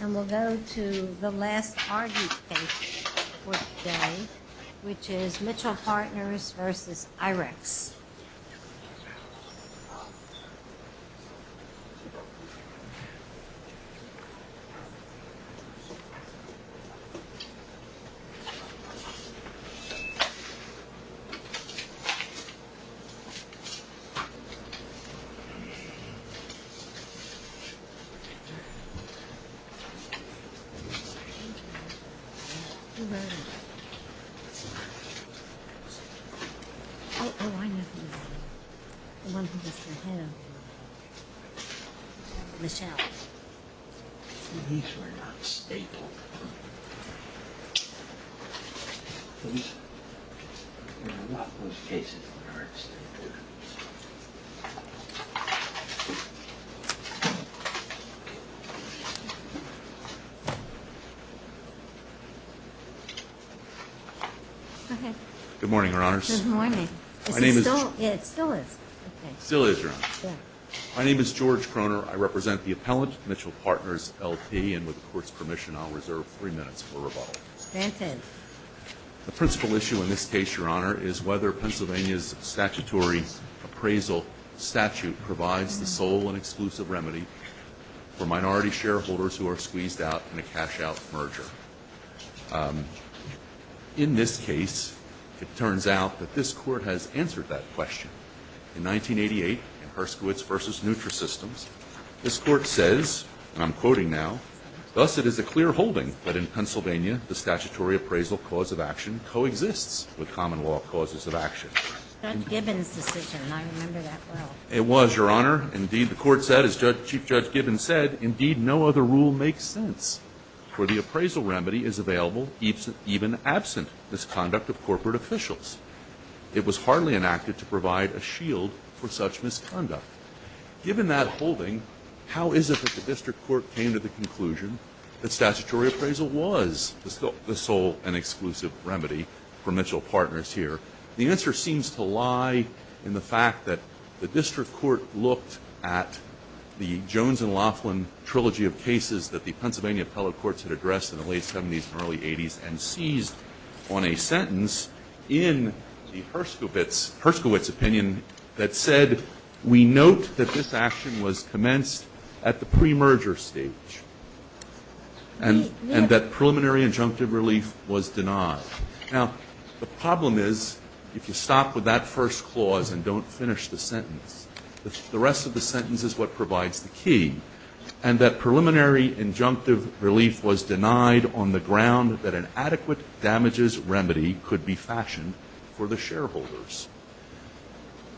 And we'll go to the last RD page for today, which is Mitchell Partners vs. IREX. Thank you. Who wrote it? Oh, oh, I know who wrote it. The one who was for him. Michelle. These were not stapled. There are a lot of those cases in the arts. Okay. Good morning, Your Honors. Good morning. Is it still? Yeah, it still is. It still is, Your Honor. Yeah. My name is George Krohner. I represent the appellant, Mitchell Partners LP, and with the Court's permission, I'll reserve three minutes for rebuttal. Granted. The principal issue in this case, Your Honor, is whether Pennsylvania's statutory appraisal Thank you. Thank you. Thank you. Thank you. Thank you. Thank you. Thank you. Thank you. Thank you. Thank you. Thank you. Thank you. Thank you. Thank you. In this case, it turns out that this Court has answered that question. In 1988 in Herskowitz v. Nutra Systems, this Court says, and I'm quoting now, Thus, it is a clear holding that in Pennsylvania the statutory appraisal cause of action coexists with common law causes of action. Judge Gibbons' decision, and I remember that well. It was, Your Honor. coexists with common law causes of action. where the appraisal remedy is available even absent misconduct of corporate officials. It was hardly enacted to provide a shield for such misconduct. Given that holding, how is it that the District Court came to the conclusion that statutory appraisal was the sole and exclusive remedy for Mitchell Partners here? The answer seems to lie in the fact that the District Court looked at the Jones and Laughlin trilogy of cases that the Pennsylvania appellate courts had addressed in the late 70s and early 80s and seized on a sentence in the Herskowitz opinion that said, We note that this action was commenced at the pre-merger stage and that preliminary injunctive relief was denied. Now, the problem is, if you stop with that first clause and don't finish the sentence, the rest of the sentence is what provides the key. And that preliminary injunctive relief was denied on the ground that an adequate damages remedy could be fashioned for the shareholders.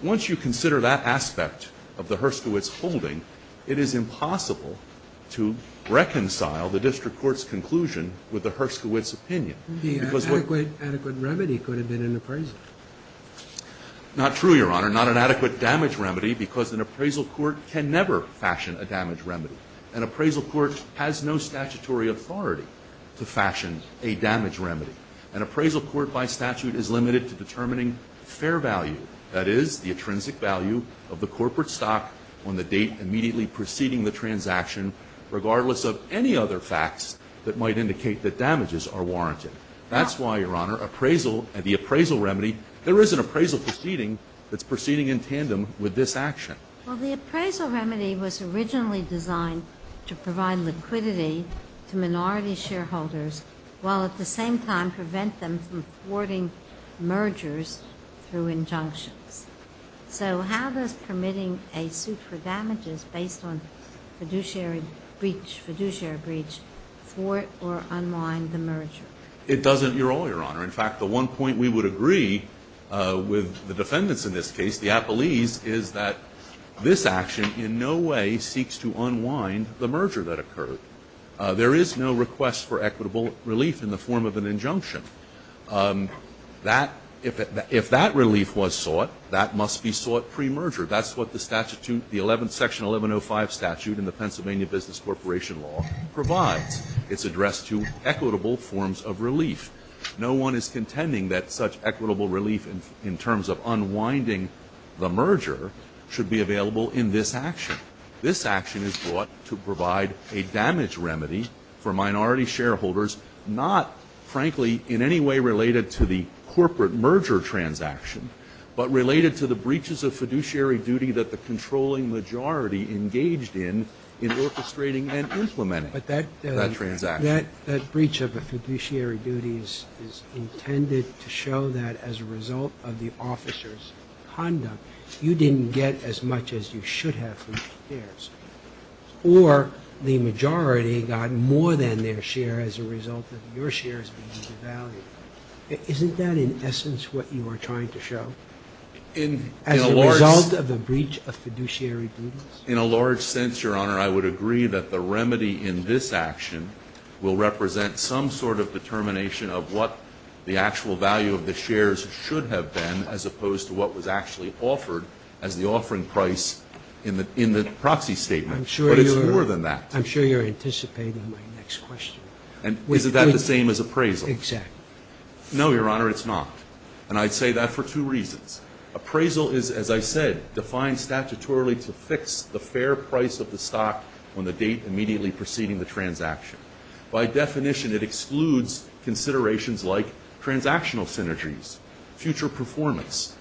Once you consider that aspect of the Herskowitz holding, it is impossible to reconcile the District Court's conclusion with the Herskowitz opinion. The adequate remedy could have been an appraisal. Not true, Your Honor. Not an adequate damage remedy because an appraisal court can never fashion a damage remedy. An appraisal court has no statutory authority to fashion a damage remedy. An appraisal court by statute is limited to determining fair value, that is, the intrinsic value of the corporate stock on the date immediately preceding the transaction, regardless of any other facts that might indicate that damages are warranted. That's why, Your Honor, appraisal and the appraisal remedy, there is an appraisal proceeding that's proceeding in tandem with this action. Well, the appraisal remedy was originally designed to provide liquidity to minority shareholders while at the same time prevent them from thwarting mergers through injunctions. So how does permitting a suit for damages based on fiduciary breach, fiduciary breach, thwart or unwind the merger? It doesn't at all, Your Honor. In fact, the one point we would agree with the defendants in this case, the appellees, is that this action in no way seeks to unwind the merger that occurred. There is no request for equitable relief in the form of an injunction. That, if that relief was sought, that must be sought pre-merger. That's what the statute, the 11th section, 1105 statute in the Pennsylvania Business Corporation Law provides. It's addressed to equitable forms of relief. The merger should be available in this action. This action is brought to provide a damage remedy for minority shareholders, not, frankly, in any way related to the corporate merger transaction, but related to the breaches of fiduciary duty that the controlling majority engaged in, in orchestrating and implementing that transaction. But that breach of the fiduciary duties is intended to show that as a result of the officers' conduct, you didn't get as much as you should have from the shares, or the majority got more than their share as a result of your shares being devalued. Isn't that, in essence, what you are trying to show? As a result of the breach of fiduciary duties? In a large sense, Your Honor, I would agree that the remedy in this action will represent some sort of determination of what the actual value of the shares should have been as opposed to what was actually offered as the offering price in the proxy statement. But it's more than that. I'm sure you're anticipating my next question. Isn't that the same as appraisal? Exactly. No, Your Honor, it's not. And I'd say that for two reasons. Appraisal is, as I said, defined statutorily to fix the fair price of the stock on the date immediately preceding the transaction. By definition, it excludes considerations like transactional synergies, future performance,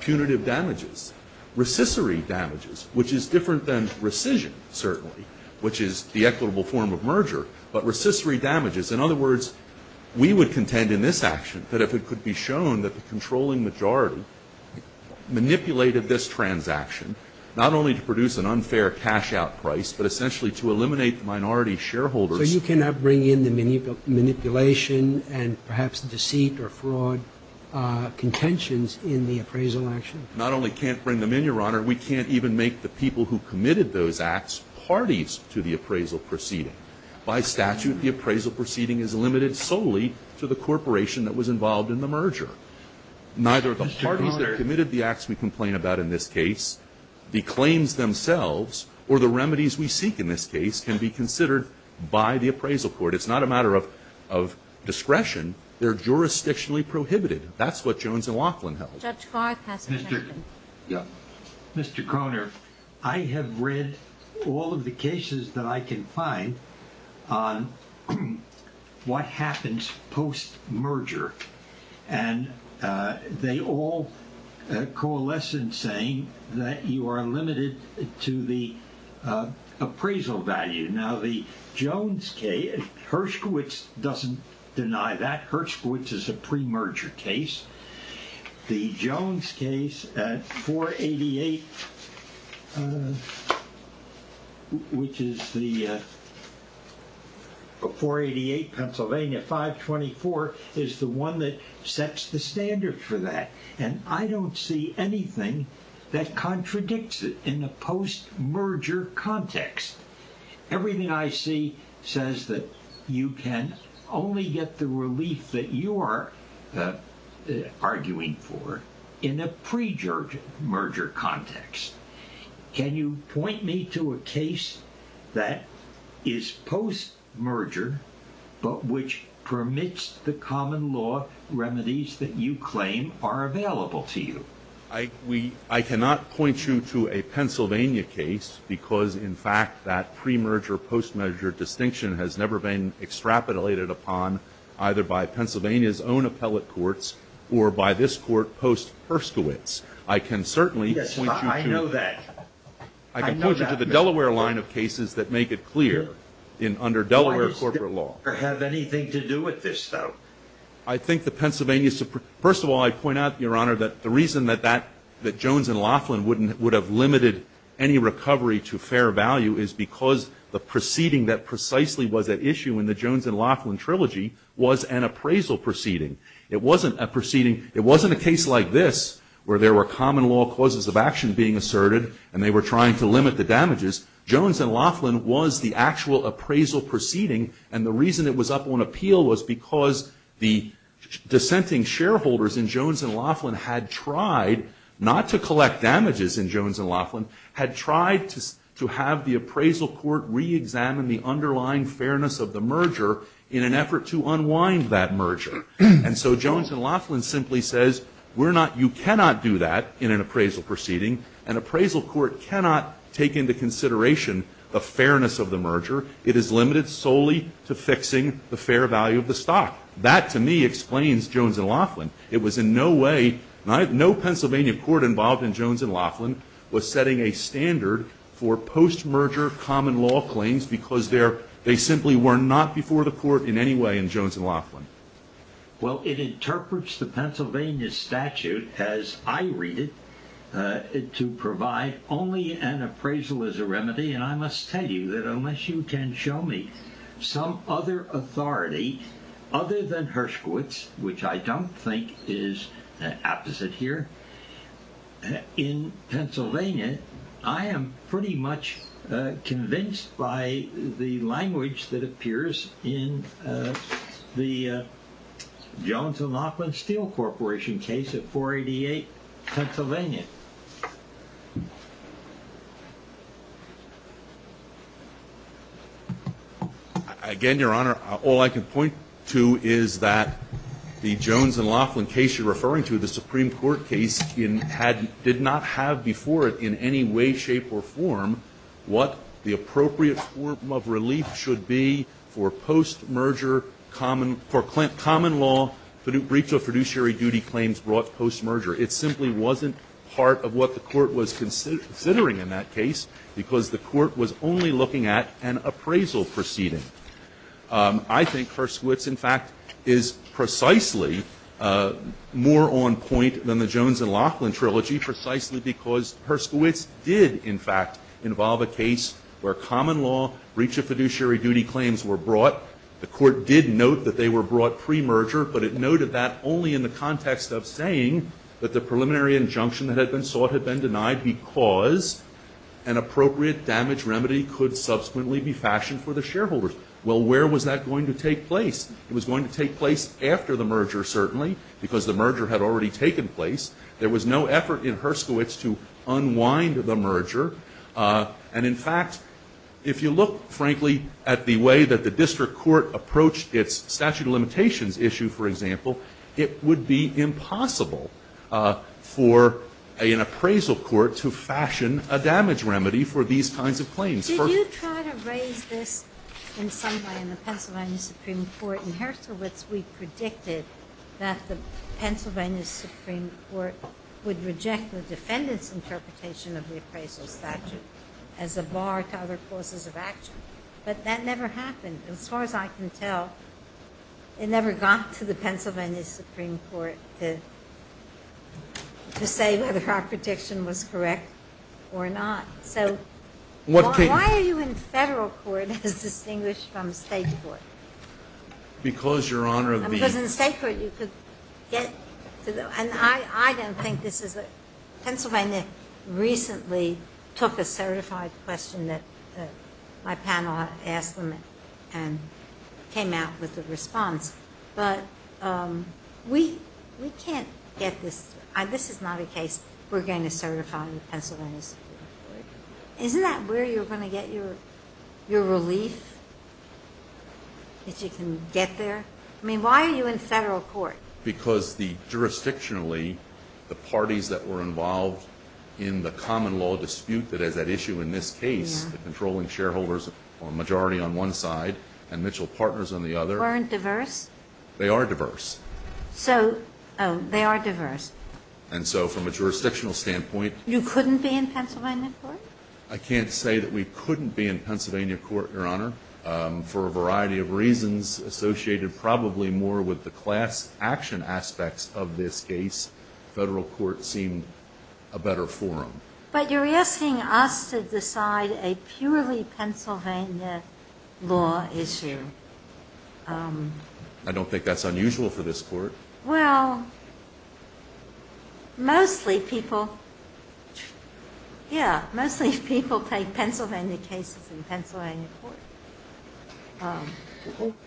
punitive damages, recissory damages, which is different than rescission, certainly, which is the equitable form of merger, but recissory damages. In other words, we would contend in this action that if it could be shown that the controlling majority manipulated this transaction, not only to produce an unfair cash-out price, but essentially to eliminate the minority shareholders. So you cannot bring in the manipulation and perhaps deceit or fraud contenders to make interventions in the appraisal action? Not only can't bring them in, Your Honor, we can't even make the people who committed those acts parties to the appraisal proceeding. By statute, the appraisal proceeding is limited solely to the corporation that was involved in the merger. Neither of the parties that committed the acts we complain about in this case, the claims themselves, or the remedies we seek in this case, can be considered by the appraisal court. It's not a matter of discretion. They're jurisdictionally prohibited. That's what Jones and Laughlin held. Judge Clark has a question. Mr. Kroner, I have read all of the cases that I can find on what happens post-merger, and they all coalesce in saying that you are limited to the appraisal value. Now, the Jones case, Hershkowitz doesn't deny that. Hershkowitz is a pre-merger case. The Jones case, 488 Pennsylvania 524, is the one that sets the standard for that. And I don't see anything that contradicts it in the post-merger context. Everything I see says that you can only get the relief that you are arguing for in a pre-merger context. Can you point me to a case that is post-merger, but which permits the common law remedies that you claim are available to you? I cannot point you to a Pennsylvania case because, in fact, that pre-merger, post-merger distinction has never been extrapolated upon either by Pennsylvania's own appellate courts or by this Court post-Hershkowitz. I can certainly point you to the Delaware line of cases that make it clear under Delaware corporate law. Does that have anything to do with this, though? First of all, I point out, Your Honor, that the reason that Jones and Laughlin would have limited any recovery to fair value is because the proceeding that precisely was at issue in the Jones and Laughlin trilogy was an appraisal proceeding. It wasn't a proceeding, it wasn't a case like this where there were common law causes of action being asserted and they were trying to limit the damages. Jones and Laughlin was the actual appraisal proceeding, and the reason it was up on dissenting shareholders in Jones and Laughlin had tried not to collect damages in Jones and Laughlin, had tried to have the appraisal court re-examine the underlying fairness of the merger in an effort to unwind that merger. And so Jones and Laughlin simply says, you cannot do that in an appraisal proceeding. An appraisal court cannot take into consideration the fairness of the merger. It is limited solely to fixing the fair value of the stock. That to me explains Jones and Laughlin. It was in no way, no Pennsylvania court involved in Jones and Laughlin was setting a standard for post-merger common law claims because they simply were not before the court in any way in Jones and Laughlin. Well, it interprets the Pennsylvania statute as I read it to provide only an appraisal as a remedy, and I must tell you that unless you can show me some other authority other than Hershkowitz, which I don't think is an apposite here in Pennsylvania, I am pretty much convinced by the language that appears in the Jones and Laughlin Steel Corporation case at 488 Pennsylvania. Again, Your Honor, all I can point to is that the Jones and Laughlin case you're referring to, the Supreme Court case, did not have before it in any way, shape, or form what the appropriate form of relief should be for post-merger common law briefs of fiduciary duty claims brought post-merger. It simply wasn't part of what the court was considering in that case because the court was only looking at an appraisal proceeding. I think Hershkowitz, in fact, is precisely more on point than the Jones and Laughlin trilogy precisely because Hershkowitz did, in fact, involve a case where common law briefs of fiduciary duty claims were brought. The court did note that they were brought pre-merger, but it noted that only in the case that the preliminary injunction that had been sought had been denied because an appropriate damage remedy could subsequently be fashioned for the shareholders. Well, where was that going to take place? It was going to take place after the merger, certainly, because the merger had already taken place. There was no effort in Hershkowitz to unwind the merger, and in fact, if you look, frankly, at the way that the district court approached its statute of an appraisal court to fashion a damage remedy for these kinds of claims. First of all. Did you try to raise this in some way in the Pennsylvania Supreme Court? In Hershkowitz, we predicted that the Pennsylvania Supreme Court would reject the defendant's interpretation of the appraisal statute as a bar to other causes of action, but that never happened. As far as I can tell, it never got to the Pennsylvania Supreme Court to say whether our prediction was correct or not. So why are you in federal court as distinguished from state court? Because, Your Honor, of the- Because in state court you could get to the-and I don't think this is-Pennsylvania recently took a certified question that my panel asked them and came out with a response, but we can't get this-this is not a case we're going to certify the Pennsylvania Supreme Court. Isn't that where you're going to get your relief, that you can get there? I mean, why are you in federal court? Because the-jurisdictionally, the parties that were involved in the common law dispute that has that issue in this case, the controlling shareholders or majority on one side and Mitchell partners on the other- Weren't diverse? They are diverse. So-oh, they are diverse. And so from a jurisdictional standpoint- You couldn't be in Pennsylvania court? I can't say that we couldn't be in Pennsylvania court, Your Honor, for a variety of reasons associated probably more with the class action aspects of this case. Federal court seemed a better forum. But you're asking us to decide a purely Pennsylvania law issue. I don't think that's unusual for this court. Well, mostly people-yeah, mostly people take Pennsylvania cases in Pennsylvania court.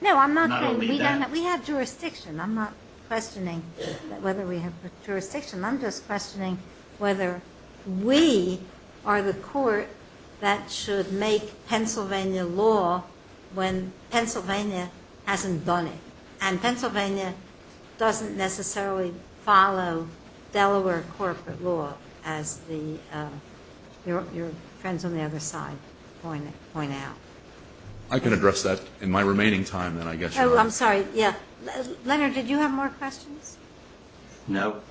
No, I'm not saying- Not only that. We have jurisdiction. I'm not questioning whether we have jurisdiction. I'm just questioning whether we are the court that should make Pennsylvania law when Pennsylvania hasn't done it. And Pennsylvania doesn't necessarily follow Delaware corporate law, as your friends on the other side point out. I can address that in my remaining time. Oh, I'm sorry. Yeah. Leonard, did you have more questions? No.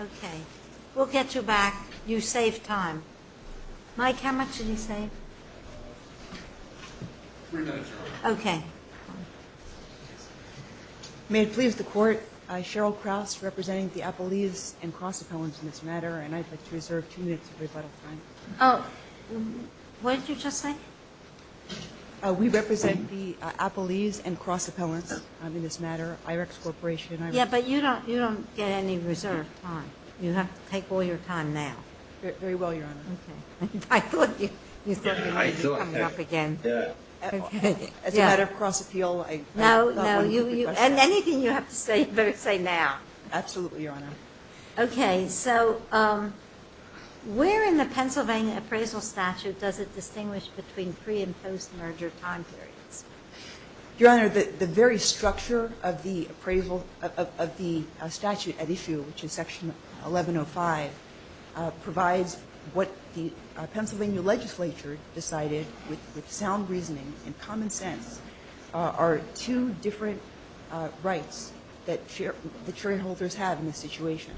Okay. We'll get you back. You saved time. Mike, how much did he save? Three minutes, Your Honor. Okay. May it please the Court, Cheryl Krause representing the Appellees and Cross Appellants in this matter, and I'd like to reserve two minutes of rebuttal time. What did you just say? We represent the Appellees and Cross Appellants in this matter, IREX Corporation. Yeah, but you don't get any reserve time. You have to take all your time now. Very well, Your Honor. Okay. I thought you said you were coming up again. Yeah. As a matter of cross appeal, I thought one would be better. No, no. And anything you have to say, you better say now. Absolutely, Your Honor. Okay. So where in the Pennsylvania appraisal statute does it distinguish between pre and post-merger time periods? Your Honor, the very structure of the appraisal of the statute at issue, which is section 1105, provides what the Pennsylvania legislature decided, with sound reasoning and common sense, are two different rights that shareholders have in this situation.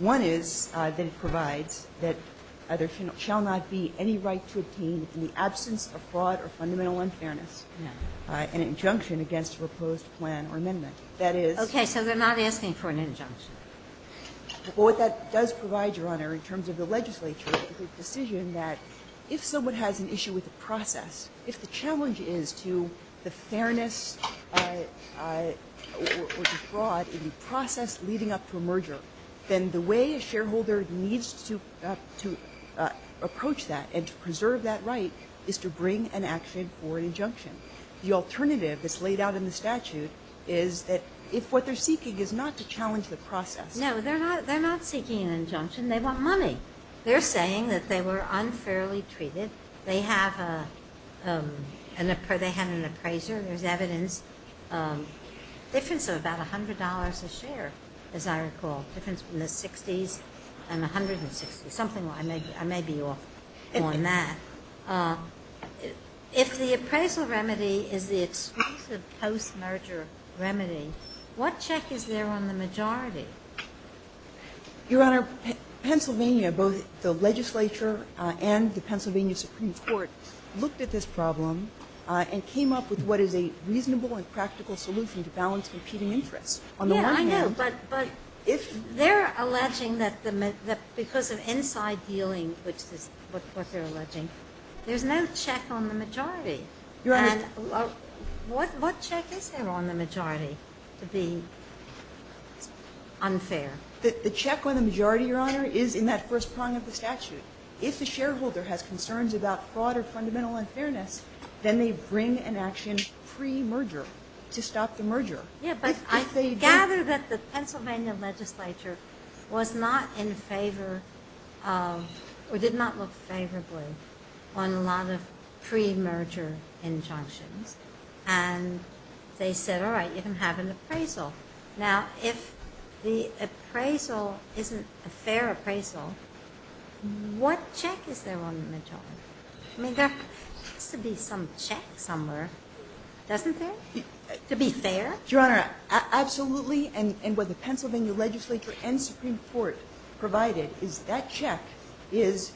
One is that it provides that there shall not be any right to obtain, in the absence of fraud or fundamental unfairness, an injunction against a proposed plan or amendment. That is. Okay. So they're not asking for an injunction. Well, what that does provide, Your Honor, in terms of the legislature, is a decision that if someone has an issue with the process, if the challenge is to the fairness or the fraud in the process leading up to a merger, then the way a shareholder needs to approach that and to preserve that right is to bring an action for an injunction. The alternative that's laid out in the statute is that if what they're seeking is not to challenge the process. No. They're not seeking an injunction. They want money. They're saying that they were unfairly treated. They have an appraiser. There's evidence, difference of about $100 a share, as I recall, difference from the 60s and 160s, something I may be off on that. If the appraisal remedy is the exclusive post-merger remedy, what check is there on the majority? Your Honor, Pennsylvania, both the legislature and the Pennsylvania Supreme Court looked at this problem and came up with what is a reasonable and practical solution to balance competing interests. On the one hand, if they're alleging that because of inside dealing, which is what they're alleging, there's no check on the majority. What check is there on the majority to be unfair? The check on the majority, Your Honor, is in that first prong of the statute. If the shareholder has concerns about fraud or fundamental unfairness, then they bring an action pre-merger to stop the merger. I gather that the Pennsylvania legislature was not in favor or did not look favorably on a lot of pre-merger injunctions. They said, all right, you can have an appraisal. Now, if the appraisal isn't a fair appraisal, what check is there on the majority? There has to be some check somewhere, doesn't there, to be fair? Your Honor, absolutely. And what the Pennsylvania legislature and Supreme Court provided is that check is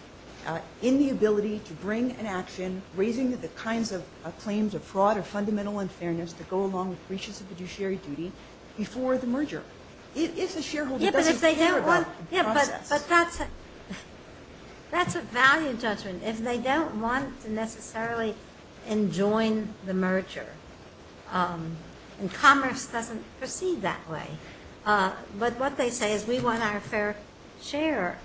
in the ability to bring an action raising the kinds of claims of fraud or fundamental unfairness to go along with breaches of fiduciary duty before the merger, if the shareholder doesn't care about the process. But that's a value judgment. If they don't want to necessarily enjoin the merger, and commerce doesn't proceed that way, but what they say is we want our fair share,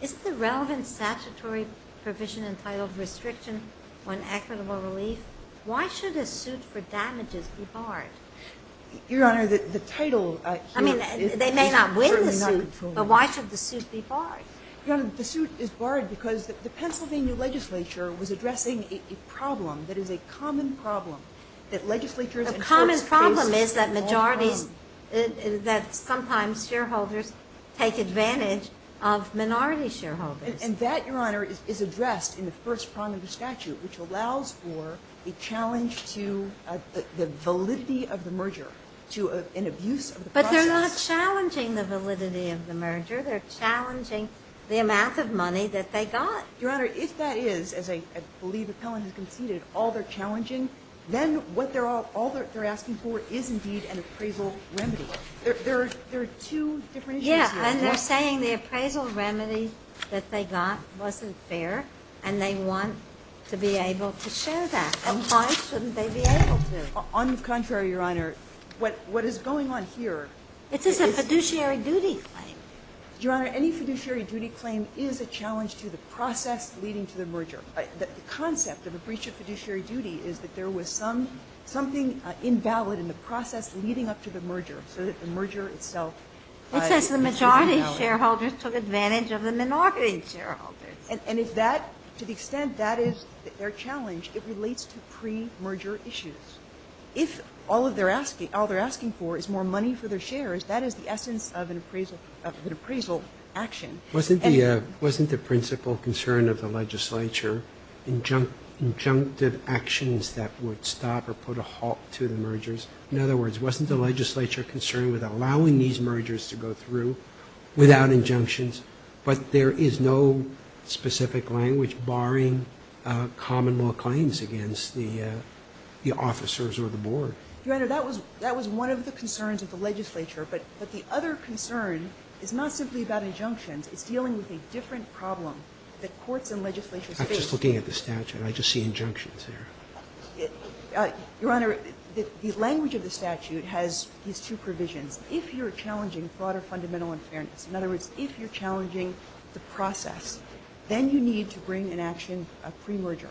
is the relevant statutory provision entitled restriction on equitable relief? Why should a suit for damages be barred? Your Honor, the title here is certainly not controlled. I mean, they may not win the suit, but why should the suit be barred? Your Honor, the suit is barred because the Pennsylvania legislature was addressing a problem that is a common problem that legislatures and courts face in all realms. A common problem is that sometimes shareholders take advantage of minority shareholders. And that, Your Honor, is addressed in the first prong of the statute, which allows for a challenge to the validity of the merger, to an abuse of the process. But they're not challenging the validity of the merger. They're challenging the amount of money that they got. Your Honor, if that is, as I believe Appellant has conceded, all they're challenging, then what they're asking for is indeed an appraisal remedy. There are two different issues here. Yes. And they're saying the appraisal remedy that they got wasn't fair, and they want to be able to share that. And why shouldn't they be able to? On the contrary, Your Honor, what is going on here is this is a fiduciary duty claim. Your Honor, any fiduciary duty claim is a challenge to the process leading to the merger. The concept of a breach of fiduciary duty is that there was something invalid in the process leading up to the merger, so that the merger itself is invalid. It says the majority of shareholders took advantage of the minority shareholders. And if that, to the extent that is their challenge, it relates to pre-merger issues. If all they're asking for is more money for their shares, that is the essence of an appraisal action. Wasn't the principal concern of the legislature injunctive actions that would stop or put a halt to the mergers? In other words, wasn't the legislature concerned with allowing these mergers to go through without injunctions, but there is no specific language barring common law claims against the officers or the board? Your Honor, that was one of the concerns of the legislature. But the other concern is not simply about injunctions. It's dealing with a different problem that courts and legislatures face. I'm just looking at the statute. I just see injunctions there. Your Honor, the language of the statute has these two provisions. If you're challenging broader fundamental unfairness, in other words, if you're challenging the process, then you need to bring in action a pre-merger.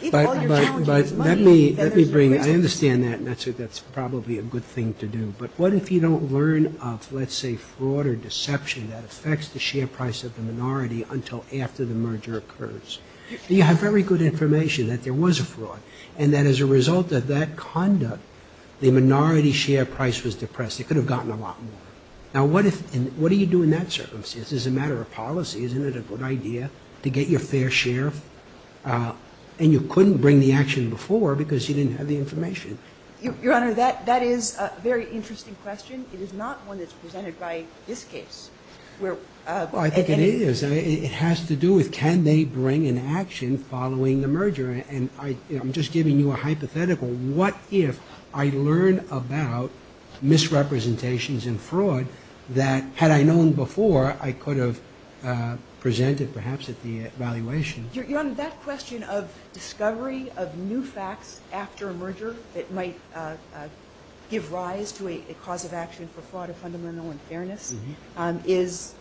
If all you're challenging is money, then there's a risk of failure. But let me bring that. I understand that, and that's probably a good thing to do. But what if you don't learn of, let's say, fraud or deception that affects the share price of the minority until after the merger occurs? You have very good information that there was a fraud, and that as a result of that conduct, the minority share price was depressed. It could have gotten a lot more. Now, what do you do in that circumstance? It's a matter of policy. Isn't it a good idea to get your fair share? And you couldn't bring the action before because you didn't have the information. Your Honor, that is a very interesting question. It is not one that's presented by this case. Well, I think it is. It has to do with can they bring an action following the merger. And I'm just giving you a hypothetical. What if I learn about misrepresentations and fraud that, had I known before, I could have presented perhaps at the evaluation? Your Honor, that question of discovery of new facts after a merger that might give rise to a cause of action for fraud of fundamental unfairness is,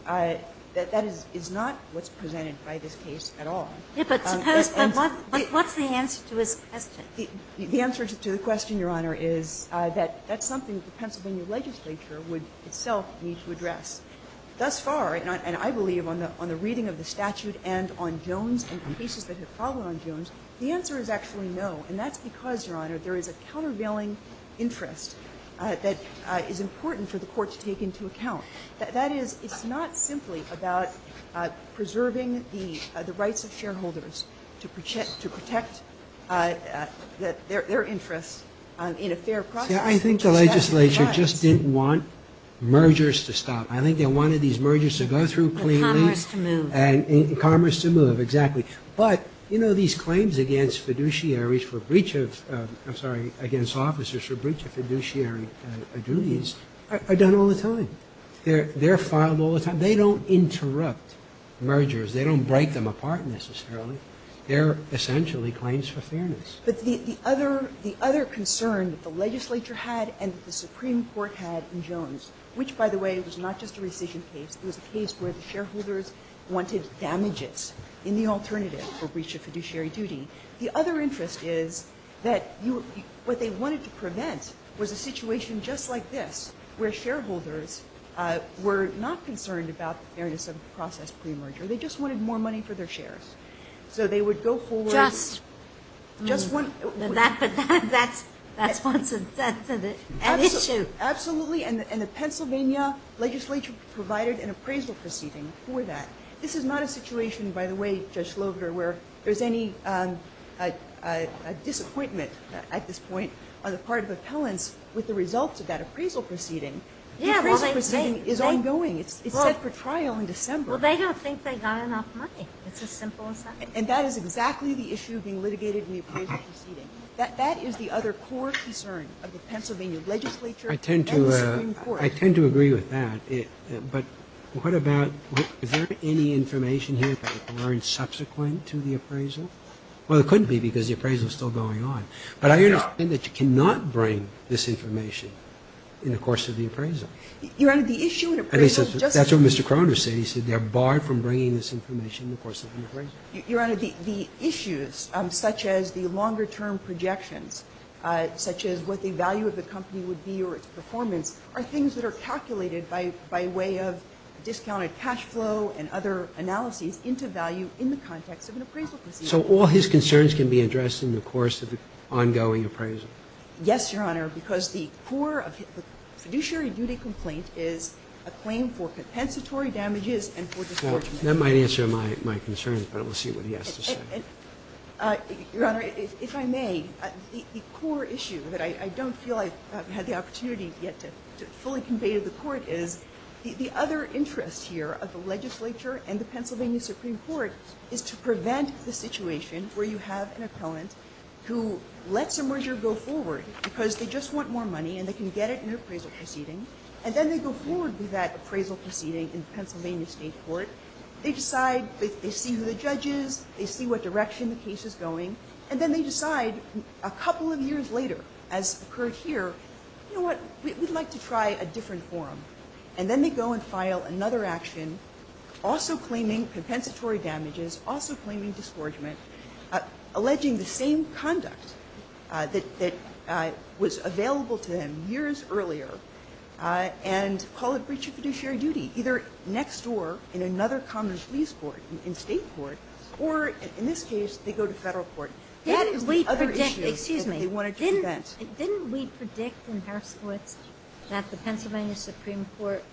that is not what's presented by this case at all. Yes, but suppose, but what's the answer to his question? The answer to the question, Your Honor, is that that's something that the Pennsylvania legislature would itself need to address. Thus far, and I believe on the reading of the statute and on Jones and on cases that have followed on Jones, the answer is actually no. And that's because, Your Honor, there is a countervailing interest that is important for the Court to take into account. That is, it's not simply about preserving the rights of shareholders to protect their interests in a fair process. See, I think the legislature just didn't want mergers to stop. I think they wanted these mergers to go through cleanly. And commerce to move. And commerce to move, exactly. But, you know, these claims against fiduciaries for breach of, I'm sorry, against officers for breach of fiduciary duties are done all the time. They're filed all the time. They don't interrupt mergers. They don't break them apart necessarily. They're essentially claims for fairness. But the other concern that the legislature had and the Supreme Court had in Jones, which, by the way, was not just a rescission case. It was a case where the shareholders wanted damages in the alternative for breach of fiduciary duty. The other interest is that what they wanted to prevent was a situation just like this where shareholders were not concerned about the fairness of the process pre-merger. They just wanted more money for their shares. So they would go forward. Just. Just one. That's one sensitive issue. Absolutely. And the Pennsylvania legislature provided an appraisal proceeding for that. This is not a situation, by the way, Judge Slover, where there's any disappointment at this point on the part of appellants with the results of that appraisal proceeding. The appraisal proceeding is ongoing. It's set for trial in December. Well, they don't think they got enough money. It's as simple as that. And that is exactly the issue being litigated in the appraisal proceeding. That is the other core concern of the Pennsylvania legislature. And the Supreme Court. I tend to agree with that. But what about ñ is there any information here that they've learned subsequent to the appraisal? Well, there couldn't be because the appraisal is still going on. But I understand that you cannot bring this information in the course of the appraisal. Your Honor, the issue in appraisal is just that. That's what Mr. Croner said. He said they're barred from bringing this information in the course of an appraisal. Your Honor, the issues such as the longer-term projections, such as what the value of the company would be or its performance, are things that are calculated by way of discounted cash flow and other analyses into value in the context of an appraisal proceeding. So all his concerns can be addressed in the course of the ongoing appraisal? Yes, Your Honor, because the core of the fiduciary duty complaint is a claim for compensatory damages and for discouragement. That might answer my concerns, but we'll see what he has to say. Your Honor, if I may, the core issue that I don't feel I've had the opportunity yet to fully convey to the Court is the other interest here of the legislature and the Pennsylvania Supreme Court is to prevent the situation where you have an appellant who lets a merger go forward because they just want more money and they can get it in an appraisal proceeding. And then they go forward with that appraisal proceeding in the Pennsylvania State Court. They decide, they see who the judge is, they see what direction the case is going, and then they decide a couple of years later, as occurred here, you know what, we'd like to try a different forum. And then they go and file another action also claiming compensatory damages, also claiming discouragement, alleging the same conduct that was available to them years earlier and call it breach of fiduciary duty, either next door in another common police court, in State court, or in this case they go to Federal court. That is the other issue that they wanted to prevent. Didn't we predict in Harris v. Woods that the Pennsylvania Supreme Court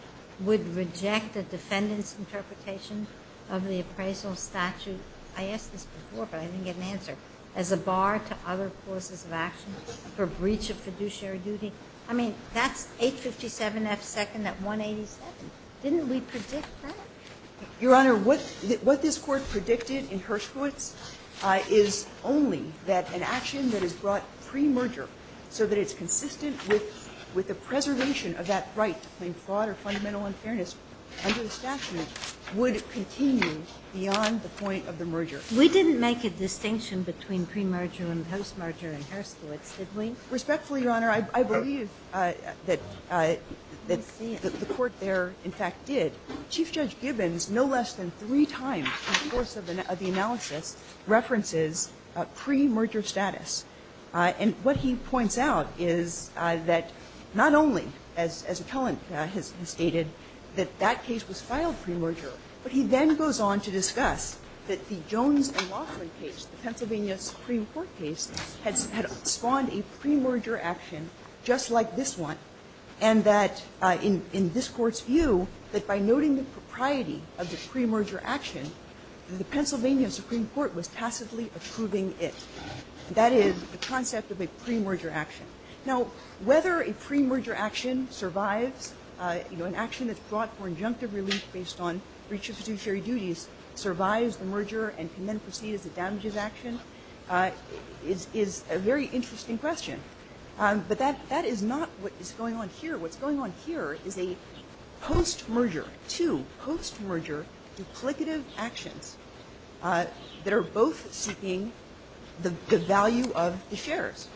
would reject the defendant's interpretation of the appraisal statute, I asked this before but I didn't get an answer, as a bar to other causes of action for breach of fiduciary duty? I mean, that's 857F second at 187. Didn't we predict that? Your Honor, what this Court predicted in Harris v. Woods is only that an action that is brought pre-merger so that it's consistent with the preservation of that right to claim fraud or fundamental unfairness under the statute would continue beyond the point of the merger. We didn't make a distinction between pre-merger and post-merger in Harris v. Woods, did we? Respectfully, Your Honor, I believe that the Court there in fact did. Chief Judge Gibbons no less than three times in the course of the analysis references pre-merger status. And what he points out is that not only, as Appellant has stated, that that case was filed pre-merger, but he then goes on to discuss that the Jones and Laughlin case, the Pennsylvania Supreme Court case, had spawned a pre-merger action just like this one, and that in this Court's view, that by noting the propriety of the pre-merger action, the Pennsylvania Supreme Court was tacitly approving it. That is the concept of a pre-merger action. Now, whether a pre-merger action survives, you know, an action that's brought for injunctive relief based on breach of fiduciary duties survives the merger and can then proceed as a damages action is a very interesting question. But that is not what is going on here. What's going on here is a post-merger, two post-merger duplicative actions that are both seeking the value of the shares.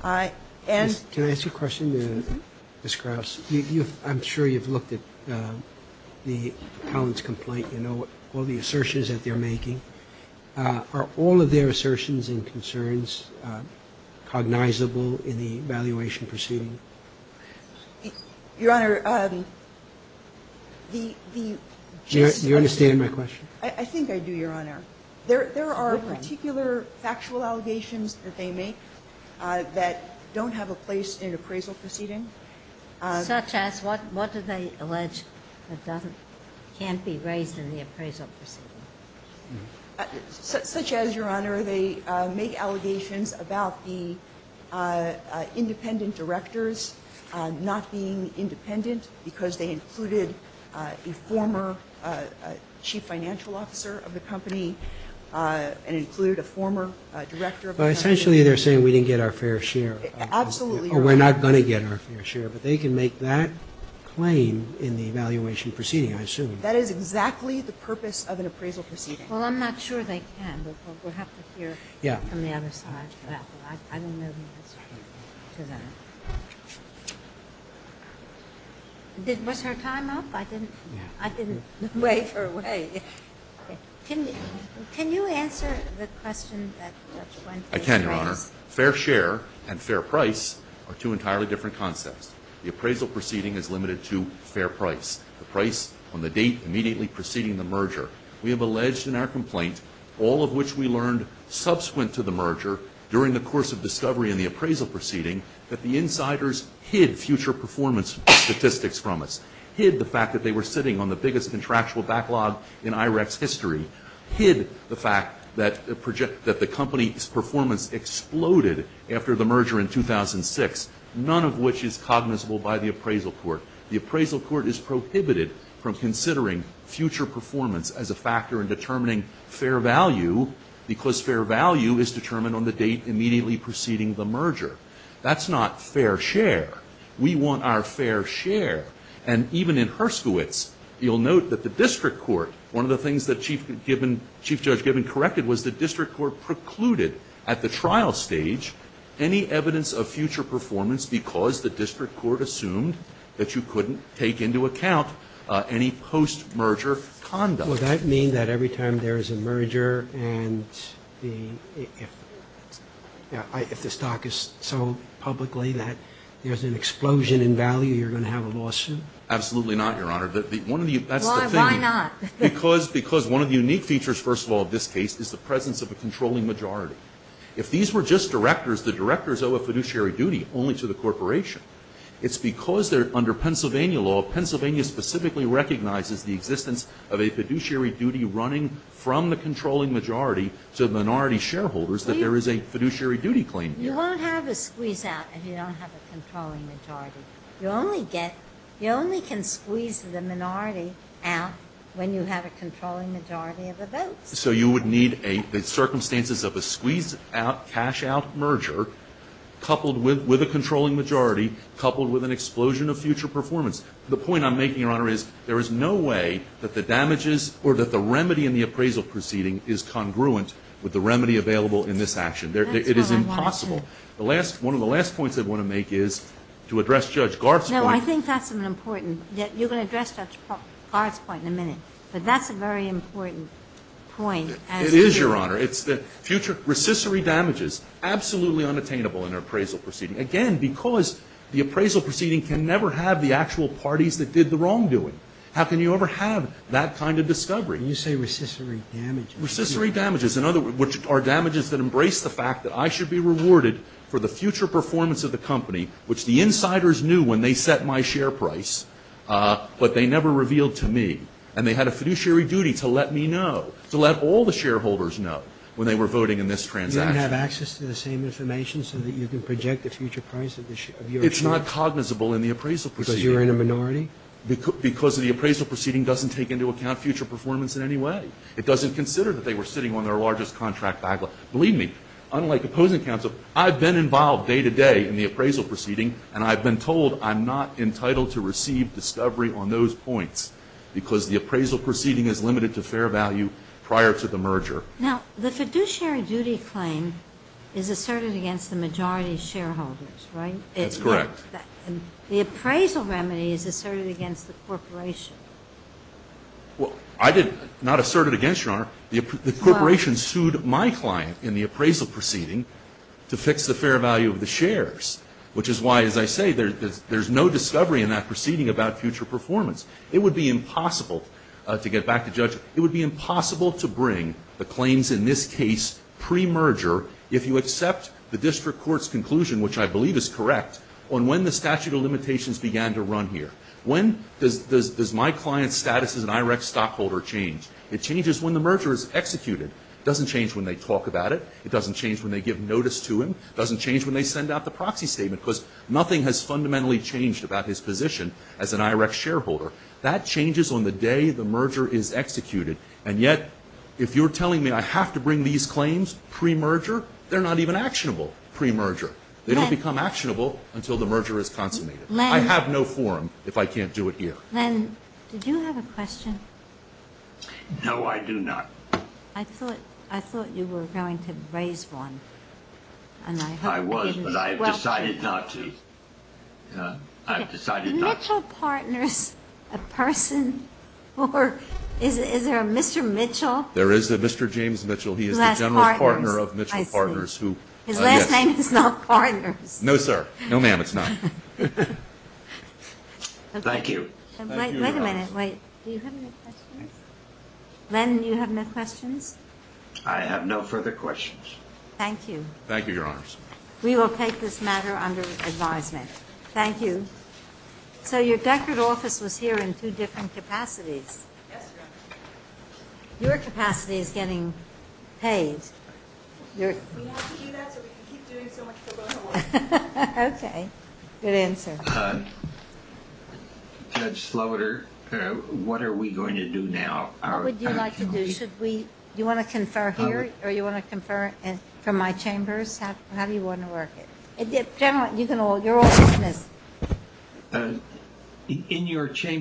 Can I ask you a question, Ms. Krauss? I'm sure you've looked at the appellant's complaint. You know all the assertions that they're making. Are all of their assertions and concerns cognizable in the evaluation proceeding? Your Honor, the case is going to be ---- Do you understand my question? I think I do, Your Honor. There are particular factual allegations that they make that don't have a place in an appraisal proceeding. Such as what do they allege that can't be raised in the appraisal proceeding? Such as, Your Honor, they make allegations about the independent directors not being independent because they included a former chief financial officer of the company and included a former director of the company. But essentially they're saying we didn't get our fair share. Absolutely. Or we're not going to get our fair share. But they can make that claim in the evaluation proceeding, I assume. That is exactly the purpose of an appraisal proceeding. Well, I'm not sure they can. We'll have to hear from the other side. I don't know the answer to that. Was her time up? I didn't wave her away. Can you answer the question that Judge Wentworth raised? I can, Your Honor. Fair share and fair price are two entirely different concepts. The appraisal proceeding is limited to fair price. The price on the date immediately preceding the merger. We have alleged in our complaint, all of which we learned subsequent to the merger, during the course of discovery in the appraisal proceeding, that the insiders hid future performance statistics from us. Hid the fact that they were sitting on the biggest contractual backlog in IREC's history. Hid the fact that the company's performance exploded after the merger in 2006. None of which is cognizable by the appraisal court. The appraisal court is prohibited from considering future performance as a factor in determining fair value, because fair value is determined on the date immediately preceding the merger. That's not fair share. We want our fair share. And even in Herskowitz, you'll note that the district court, one of the things that Chief Judge Gibbon corrected, was the district court precluded at the trial stage any evidence of future performance because the district court assumed that you couldn't take into account any post-merger conduct. Well, that means that every time there is a merger and if the stock is sold publicly, that there's an explosion in value, you're going to have a lawsuit? Absolutely not, Your Honor. Why not? Because one of the unique features, first of all, of this case is the presence of a controlling majority. If these were just directors, the directors owe a fiduciary duty only to the corporation. It's because under Pennsylvania law, Pennsylvania specifically recognizes the existence of a fiduciary duty running from the controlling majority to the minority shareholders that there is a fiduciary duty claim here. You won't have a squeeze-out if you don't have a controlling majority. You only get, you only can squeeze the minority out when you have a controlling majority of the votes. So you would need a, the circumstances of a squeeze-out, cash-out merger, coupled with a controlling majority, coupled with an explosion of future performance. The point I'm making, Your Honor, is there is no way that the damages or that the remedy in the appraisal proceeding is congruent with the remedy available in this action. It is impossible. The last, one of the last points I want to make is to address Judge Garth's point. No, I think that's an important. You're going to address Judge Garth's point in a minute. But that's a very important point. It is, Your Honor. It's the future, recissory damages, absolutely unattainable in an appraisal proceeding, again, because the appraisal proceeding can never have the actual parties that did the wrongdoing. How can you ever have that kind of discovery? You say recissory damages. Recissory damages, in other words, are damages that embrace the fact that I should be rewarded for the future performance of the company, which the insiders knew when they set my share price, but they never revealed to me. And they had a fiduciary duty to let me know, to let all the shareholders know when they were voting in this transaction. You didn't have access to the same information so that you could project the future price of your share? It's not cognizable in the appraisal proceeding. Because you're in a minority? Because the appraisal proceeding doesn't take into account future performance in any way. It doesn't consider that they were sitting on their largest contract backlog. Believe me, unlike opposing counsel, I've been involved day to day in the appraisal proceeding, and I've been told I'm not entitled to receive discovery on those points because the appraisal proceeding is limited to fair value prior to the merger. Now, the fiduciary duty claim is asserted against the majority shareholders, right? That's correct. The appraisal remedy is asserted against the corporation. Well, I did not assert it against you. The corporation sued my client in the appraisal proceeding to fix the fair value of the shares, which is why, as I say, there's no discovery in that proceeding about future performance. It would be impossible, to get back to Judge, it would be impossible to bring the claims in this case pre-merger if you accept the district court's conclusion, which I believe is correct, on when the statute of limitations began to run here. When does my client's status as an IREC stockholder change? It changes when the merger is executed. It doesn't change when they talk about it. It doesn't change when they give notice to him. It doesn't change when they send out the proxy statement because nothing has fundamentally changed about his position as an IREC shareholder. That changes on the day the merger is executed. And yet, if you're telling me I have to bring these claims pre-merger, they're not even actionable pre-merger. They don't become actionable until the merger is consummated. I have no forum if I can't do it here. Ginsburg. Len, did you have a question? Mitchell. No, I do not. Ginsburg. I thought you were going to raise one. Mitchell. I was, but I've decided not to. I've decided not to. Ginsburg. Is Mitchell Partners a person or is there a Mr. Mitchell? Mitchell. There is a Mr. James Mitchell. He is the general partner of Mitchell Partners. Ginsburg. His last name is not Partners. Mitchell. No, sir. No, ma'am, it's not. Thank you. Wait a minute. Wait. Do you have any questions? Len, you have no questions? I have no further questions. Thank you. Thank you, Your Honors. We will take this matter under advisement. Thank you. So your Deckard office was here in two different capacities. Yes, ma'am. Your capacity is getting paid. We have to do that so we can keep doing so much pro bono work. Okay. Good answer. Judge Slaughter, what are we going to do now? What would you like to do? Do you want to confer here or do you want to confer from my chambers? How do you want to work it? General, you're all dismissed. In your chambers.